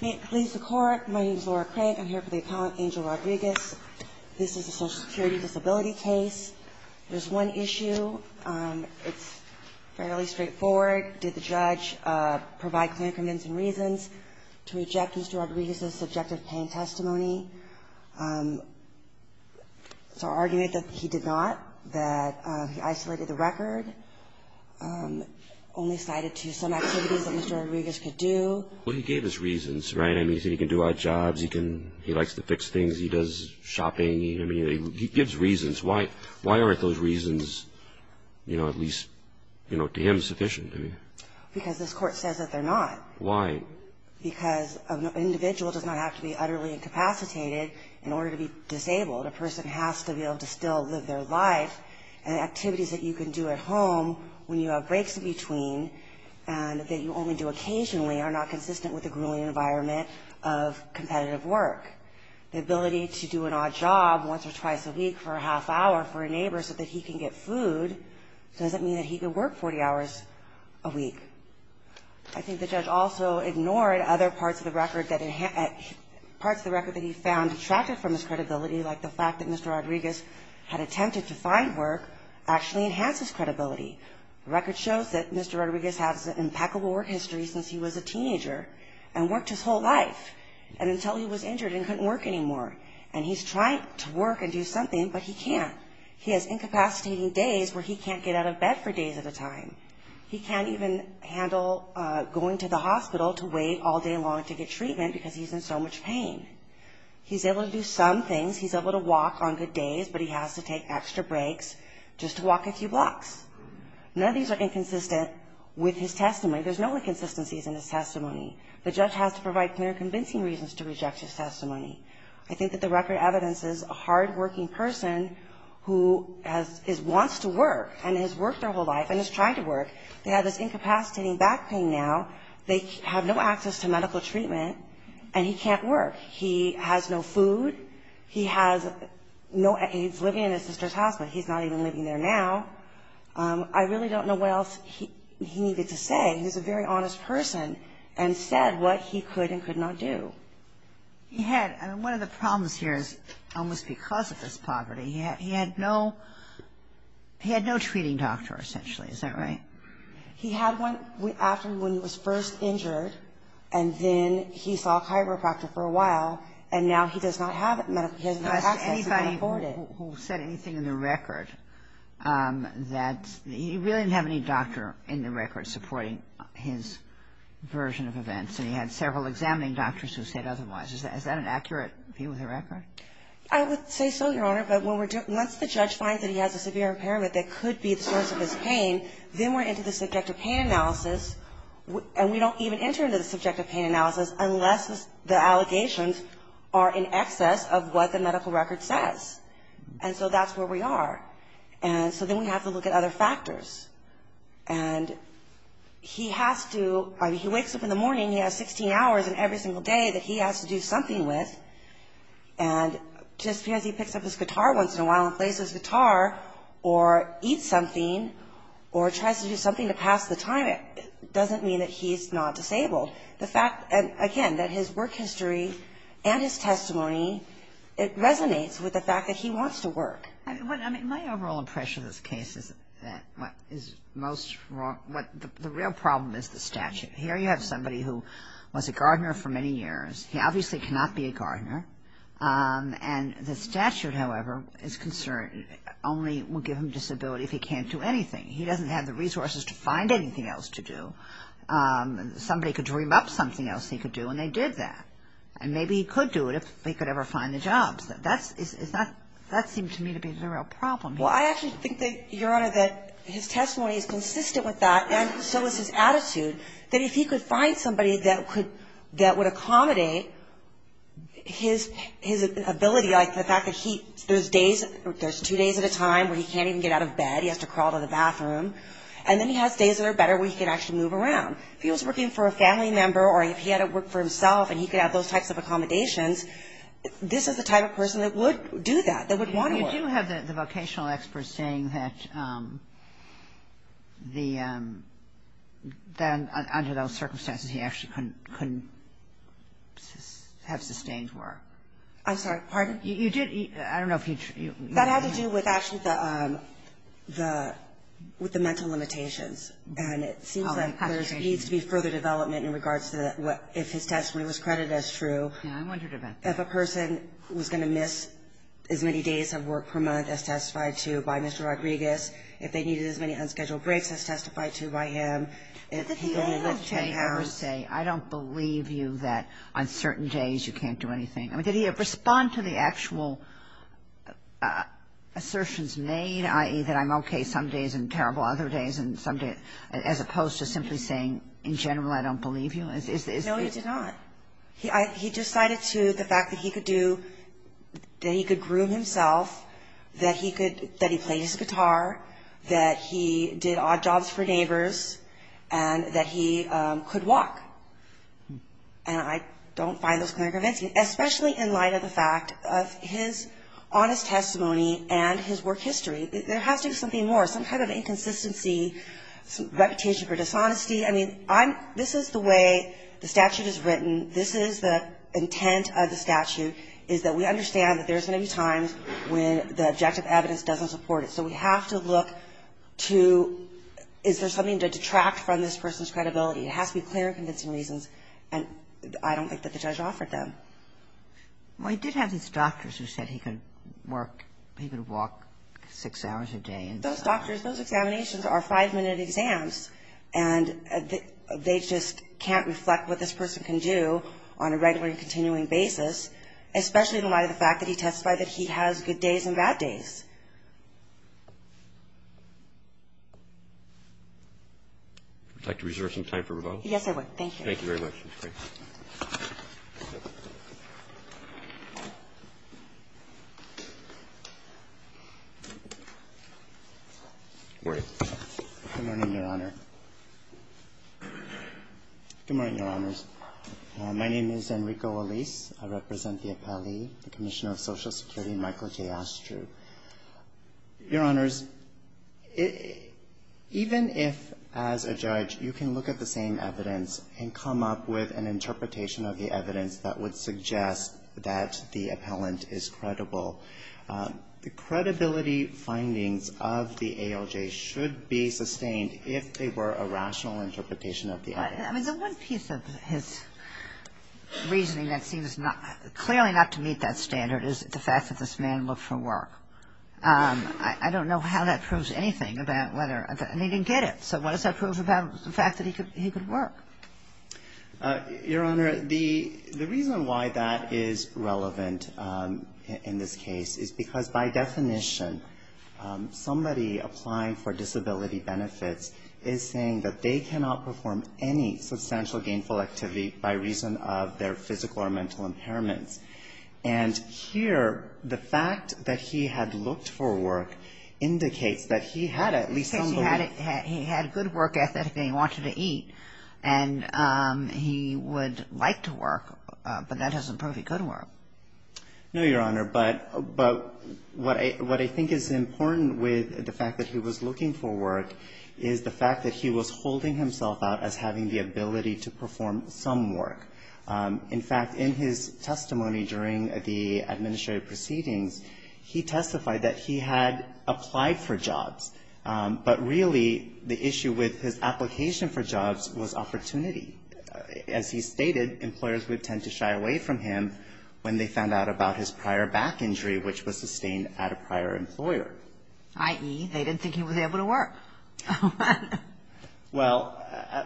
May it please the Court, my name is Laura Crank. I'm here for the appellant, Angel Rodriguez. This is a Social Security disability case. There's one issue. It's fairly straightforward. Did the judge provide clear incriminating reasons to reject Mr. Rodriguez's subjective pain testimony? It's our argument that he did not, that he isolated the record, only cited to some activities that Mr. Rodriguez could do. Well, he gave us reasons, right? I mean, he said he can do odd jobs. He likes to fix things. He does shopping. I mean, he gives reasons. Why aren't those reasons, you know, at least to him sufficient? Because this Court says that they're not. Why? Because an individual does not have to be utterly incapacitated in order to be disabled. A person has to be able to still live their life and activities that you can do at home when you have breaks in between and that you only do occasionally are not consistent with the grueling environment of competitive work. The ability to do an odd job once or twice a week for a half hour for a neighbor so that he can get food doesn't mean that he can work 40 hours a week. I think the judge also ignored other parts of the record that he found detracted from his credibility, like the fact that Mr. Rodriguez had attempted to find work actually enhances credibility. The record shows that Mr. Rodriguez has an impeccable work history since he was a teenager and worked his whole life until he was injured and couldn't work anymore. And he's trying to work and do something, but he can't. He has incapacitating days where he can't get out of bed for days at a time. He can't even handle going to the hospital to wait all day long to get treatment because he's in so much pain. He's able to do some things. He's able to walk on good days, but he has to take extra breaks just to walk a few blocks. None of these are inconsistent with his testimony. There's no inconsistencies in his testimony. The judge has to provide clear, convincing reasons to reject his testimony. I think that the record evidences a hard-working person who wants to work and has worked their whole life and is trying to work. They have this incapacitating back pain now. They have no access to medical treatment, and he can't work. He has no food. He has no money. He's living in his sister's house, but he's not even living there now. I really don't know what else he needed to say. He's a very honest person and said what he could and could not do. One of the problems here is almost because of his poverty. He had no treating doctor, essentially. Is that right? He had one after when he was first injured, and then he saw a chiropractor for a while, and now he does not have medical care. He has no access and can't afford it. He really didn't have any doctor in the record supporting his version of events, and he had several examining doctors who said otherwise. Is that an accurate view of the record? I would say so, Your Honor, but once the judge finds that he has a severe impairment that could be the source of his pain, then we're into the subjective pain analysis, and we don't even enter into the subjective pain analysis unless the allegations are in excess of what the medical record says. And so that's where we are. And so then we have to look at other factors. And he has to, I mean, he wakes up in the morning, he has 16 hours in every single day that he has to do something with, and just because he picks up his guitar once in a while and plays his guitar or eats something or tries to do something to pass the time, it doesn't mean that he's not disabled. The fact, again, that his work history and his testimony, it resonates with the fact that he wants to work. My overall impression of this case is that what is most wrong, the real problem is the statute. Here you have somebody who was a gardener for many years. He obviously cannot be a gardener. And the statute, however, is concerned only will give him disability if he can't do anything. He doesn't have the resources to find anything else to do. Somebody could dream up something else he could do, and they did that. And maybe he could do it if he could ever find a job. That seemed to me to be the real problem. Well, I actually think, Your Honor, that his testimony is consistent with that, and so is his attitude, that if he could find somebody that would accommodate his ability, like the fact that there's days, there's two days at a time where he can't even get out of bed, he has to crawl to the bathroom, and then he has days that are better where he can actually move around. If he was working for a family member or if he had to work for himself and he could have those types of accommodations, this is the type of person that would do that, that would want to work. You do have the vocational experts saying that the under those circumstances he actually couldn't have sustained work. I'm sorry, pardon? You did – I don't know if you – That had to do with actually the – with the mental limitations. And it seems like there needs to be further development in regards to what – if his testimony was credited as true. Yeah. I wondered about that. If a person was going to miss as many days of work per month as testified to by Mr. Rodriguez, if they needed as many unscheduled breaks as testified to by him, if he only lived 10 hours. I don't believe you that on certain days you can't do anything. I mean, did he respond to the actual assertions made, i.e., that I'm okay some days and terrible other days and some days – as opposed to simply saying, in general, I don't believe you? No, he did not. He decided to – the fact that he could do – that he could groom himself, that he could – that he played his guitar, that he did odd jobs for neighbors, and that he could walk. And I don't find those clear and convincing, especially in light of the fact of his honest testimony and his work history. There has to be something more, some kind of inconsistency, some reputation for dishonesty. I mean, I'm – this is the way the statute is written. This is the intent of the statute, is that we understand that there's going to be times when the objective evidence doesn't support it. So we have to look to is there something to detract from this person's credibility. It has to be clear and convincing reasons, and I don't think that the judge offered them. Well, he did have these doctors who said he could work – he could walk six hours a day and – Those doctors, those examinations are five-minute exams, and they just can't reflect what this person can do on a regular and continuing basis, especially in light of the fact that he testified that he has good days and bad days. Would you like to reserve some time for rebuttals? Yes, I would. Thank you. Thank you very much. Good morning. Good morning, Your Honor. Good morning, Your Honors. My name is Enrico Olis. I represent the appellee, the Commissioner of Social Security, Michael J. Astru. Your Honors, even if, as a judge, you can look at the same evidence and come up with an interpretation of the evidence that would suggest that the appellant is credible, the credibility findings of the ALJ should be sustained if they were a rational interpretation of the evidence. I mean, the one piece of his reasoning that seems clearly not to meet that standard is the fact that this man looked for work. I don't know how that proves anything about whether he didn't get it. So what does that prove about the fact that he could work? Your Honor, the reason why that is relevant in this case is because, by definition, somebody applying for disability benefits is saying that they cannot perform any substantial gainful activity by reason of their physical or mental impairments. And here, the fact that he had looked for work indicates that he had at least some belief he had good work ethic and he wanted to eat, and he would like to work, but that doesn't prove he could work. No, Your Honor, but what I think is important with the fact that he was looking for work is the fact that he was holding himself out as having the ability to perform some work. In fact, in his testimony during the administrative proceedings, he testified that he had applied for jobs, but really the issue with his application for jobs was opportunity. As he stated, employers would tend to shy away from him when they found out about his prior back injury, which was sustained at a prior employer. i.e., they didn't think he was able to work. Well,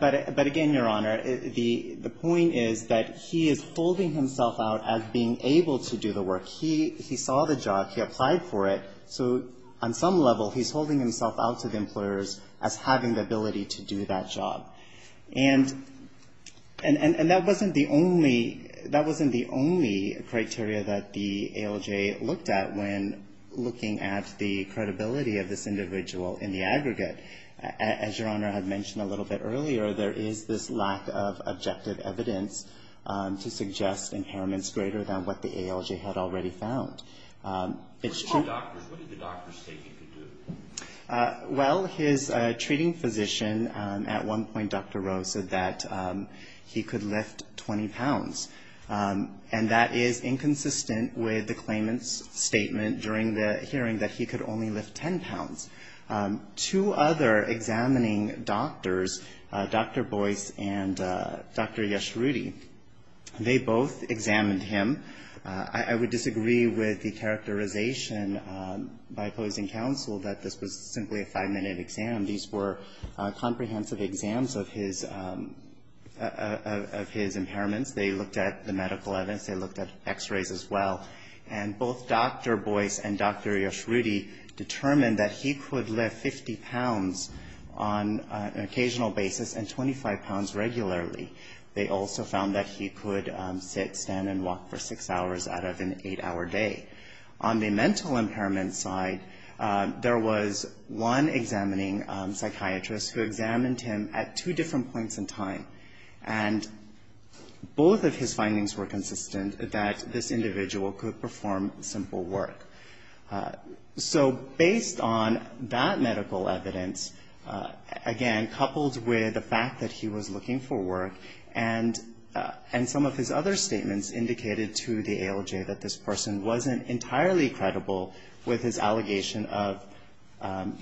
but again, Your Honor, the point is that he is holding himself out as being able to do the work. He saw the job. He applied for it. So on some level, he's holding himself out to the employers as having the ability to do that job. And that wasn't the only criteria that the ALJ looked at when looking at the credibility of this individual in the aggregate. As Your Honor had mentioned a little bit earlier, there is this lack of objective evidence to suggest impairments greater than what the ALJ had already found. It's true. What did the doctors say he could do? Well, his treating physician at one point, Dr. Rowe, said that he could lift 20 pounds. And that is inconsistent with the claimant's statement during the hearing that he could only lift 10 pounds. Two other examining doctors, Dr. Boyce and Dr. Yashroodi, they both examined him. I would disagree with the characterization by opposing counsel that this was simply a five-minute exam. These were comprehensive exams of his impairments. They looked at the medical evidence. They looked at X-rays as well. And both Dr. Boyce and Dr. Yashroodi determined that he could lift 50 pounds on an occasional basis and 25 pounds regularly. They also found that he could sit, stand, and walk for six hours out of an eight- hour day. On the mental impairment side, there was one examining psychiatrist who examined him at two different points in time. And both of his findings were consistent that this individual could perform simple work. So based on that medical evidence, again, coupled with the fact that he was looking for work and some of his other statements indicated to the ALJ that this person wasn't entirely credible with his allegation of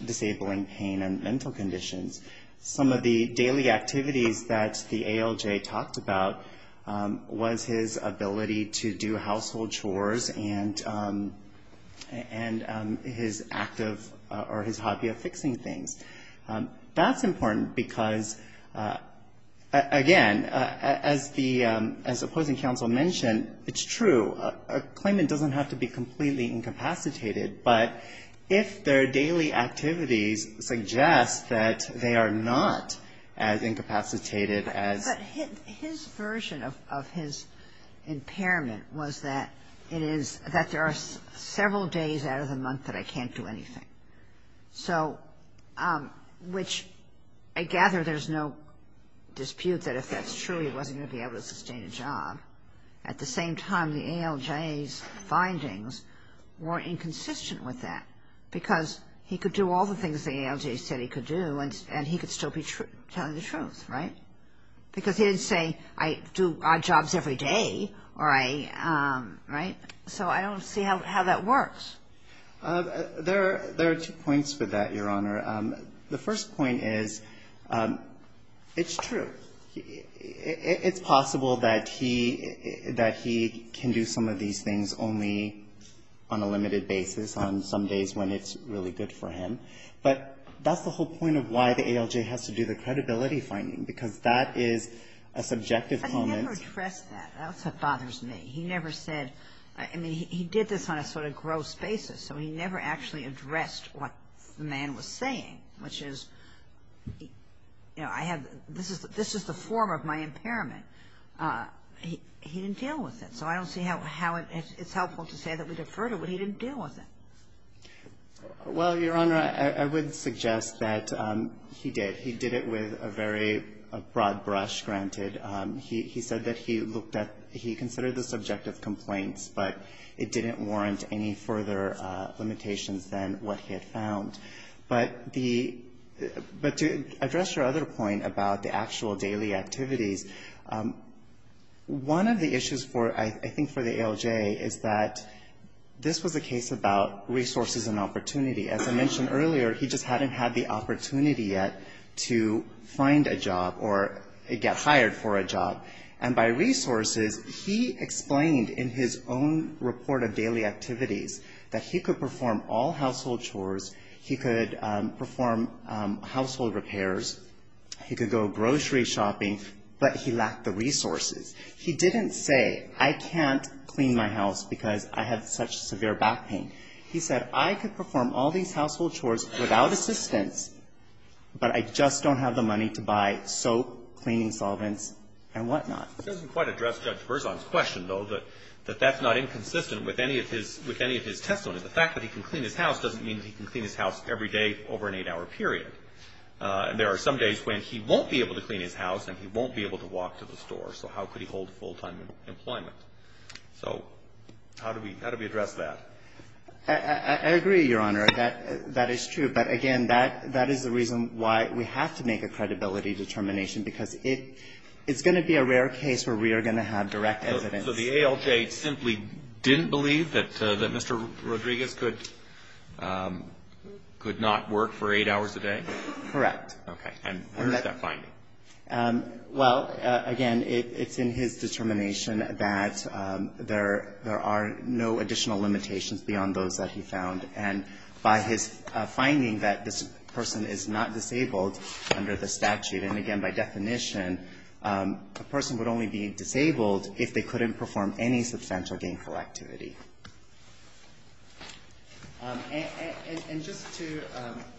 disabling pain and mental conditions, some of the daily activities that the ALJ talked about was his ability to do household chores and his active or his hobby of fixing things. That's important because, again, as the opposing counsel mentioned, it's true. A claimant doesn't have to be completely incapacitated, but if their daily activities suggest that they are not as incapacitated as his. But his version of his impairment was that it is that there are several days out of the month that I can't do anything. So which I gather there's no dispute that if that's true, he wasn't going to be able to sustain a job. At the same time, the ALJ's findings were inconsistent with that because he could do all the things the ALJ said he could do and he could still be telling the truth, right? Because he didn't say I do odd jobs every day or I, right? So I don't see how that works. There are two points with that, Your Honor. The first point is it's true. It's possible that he can do some of these things only on a limited basis on some days when it's really good for him, but that's the whole point of why the ALJ has to do the credibility finding because that is a subjective comment. I never addressed that. That's what bothers me. He never said, I mean, he did this on a sort of gross basis, so he never actually addressed what the man was saying, which is, you know, I have this is the form of my impairment. He didn't deal with it. So I don't see how it's helpful to say that we defer to what he didn't deal with it. Well, Your Honor, I would suggest that he did. He did it with a very broad brush, granted. He said that he looked at he considered the subjective complaints, but it didn't warrant any further limitations than what he had found. But to address your other point about the actual daily activities, one of the issues, I think, for the ALJ is that this was a case about resources and opportunity. As I mentioned earlier, he just hadn't had the opportunity yet to find a job or get hired for a job. And by resources, he explained in his own report of daily activities that he could perform all household chores, he could perform household repairs, he could go grocery shopping, but he lacked the resources. He didn't say, I can't clean my house because I have such severe back pain. He said, I could perform all these household chores without assistance, but I just don't have the money to buy soap, cleaning solvents, and whatnot. It doesn't quite address Judge Berzon's question, though, that that's not inconsistent with any of his testimony. The fact that he can clean his house doesn't mean that he can clean his house every day over an eight-hour period. There are some days when he won't be able to clean his house and he won't be able to walk to the store. So how could he hold full-time employment? So how do we address that? I agree, Your Honor. That is true. But, again, that is the reason why we have to make a credibility determination, because it's going to be a rare case where we are going to have direct evidence. So the ALJ simply didn't believe that Mr. Rodriguez could not work for eight hours a day? Correct. Okay. And where is that finding? Well, again, it's in his determination that there are no additional limitations beyond those that he found, and by his finding that this person is not disabled under the statute. And, again, by definition, a person would only be disabled if they couldn't perform any substantial gainful activity. And just to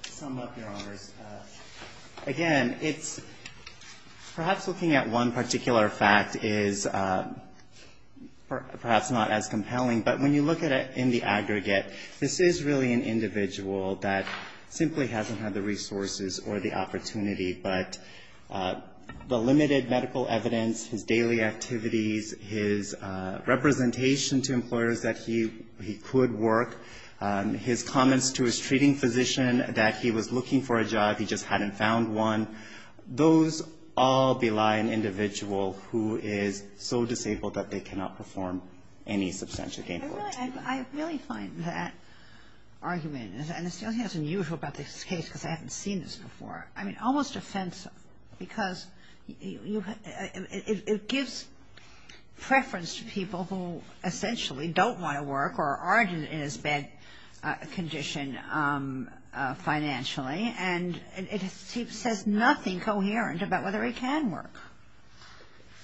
sum up, Your Honors, again, it's perhaps looking at one particular fact is perhaps not as compelling. But when you look at it in the aggregate, this is really an individual that simply hasn't had the resources or the opportunity. But the limited medical evidence, his daily activities, his representation to employers that he could work, his comments to his treating physician that he was looking for a job, he just hadn't found one, those all belie an individual who is so disabled that they cannot perform any substantial gainful activity. I really find that argument, and it's something that's unusual about this case because I haven't seen this before, I mean, almost offensive because it gives preference to people who essentially don't want to work or aren't in as bad condition financially. And it says nothing coherent about whether he can work.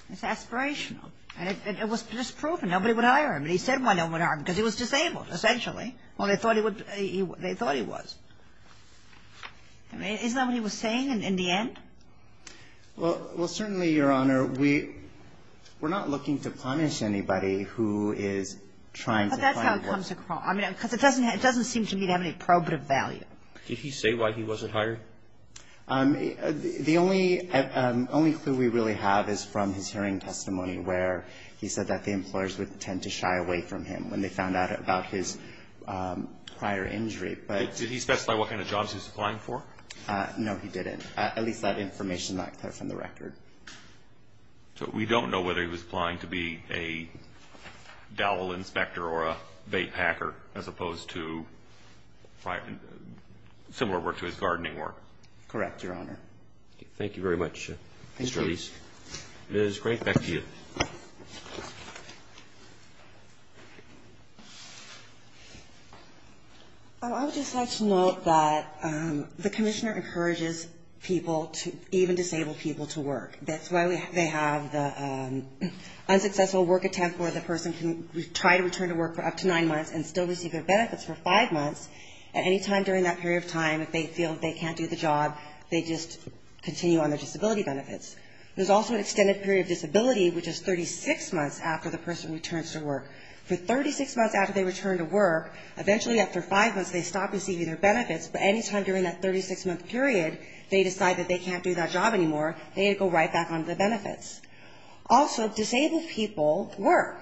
It's aspirational. And it was just proven. Nobody would hire him. And he said no one would hire him because he was disabled, essentially. Well, they thought he was. I mean, isn't that what he was saying in the end? Well, certainly, Your Honor, we're not looking to punish anybody who is trying to find work. But that's how it comes across. I mean, because it doesn't seem to me to have any probative value. Did he say why he wasn't hired? The only clue we really have is from his hearing testimony where he said that the employers would tend to shy away from him when they found out about his prior injury. Did he specify what kind of jobs he was applying for? No, he didn't. At least that information is not clear from the record. So we don't know whether he was applying to be a dowel inspector or a bait packer as opposed to similar work to his gardening work? Correct, Your Honor. Thank you very much, Mr. Elyse. It is great back to you. I would just like to note that the commissioner encourages people, even disabled people, to work. That's why they have the unsuccessful work attempt where the person can try to return to work for up to nine months and still receive their benefits for five months. At any time during that period of time, if they feel they can't do the job, they just continue on their disability benefits. There's also an extended period of disability, which is 36 months after the person returns to work. For 36 months after they return to work, eventually after five months they stop receiving their benefits, but any time during that 36-month period they decide that they can't do that job anymore, they go right back on to the benefits. Also, disabled people work.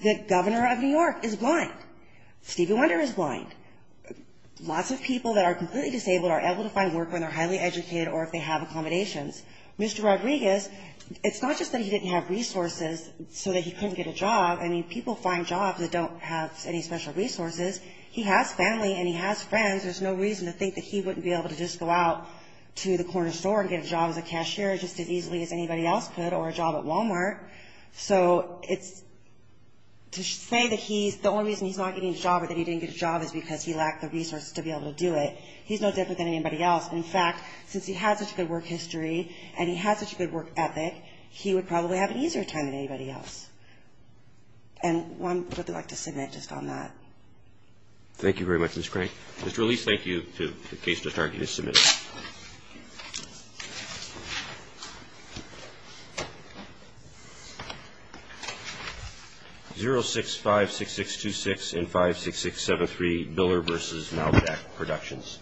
The governor of New York is blind. Stevie Wonder is blind. Lots of people that are completely disabled are able to find work when they're highly educated or if they have accommodations. Mr. Rodriguez, it's not just that he didn't have resources so that he couldn't get a job. I mean, people find jobs that don't have any special resources. He has family and he has friends. There's no reason to think that he wouldn't be able to just go out to the corner store and get a job as a cashier just as easily as anybody else could or a job at Walmart. So it's to say that the only reason he's not getting a job or that he didn't get a job is because he lacked the resources to be able to do it. He's no different than anybody else. In fact, since he has such a good work history and he has such a good work ethic, he would probably have an easier time than anybody else. And one would like to submit just on that. Thank you very much, Ms. Crank. Mr. Elise, thank you. The case to the target is submitted. 0656626 and 56673, Biller v. Malvedac Productions.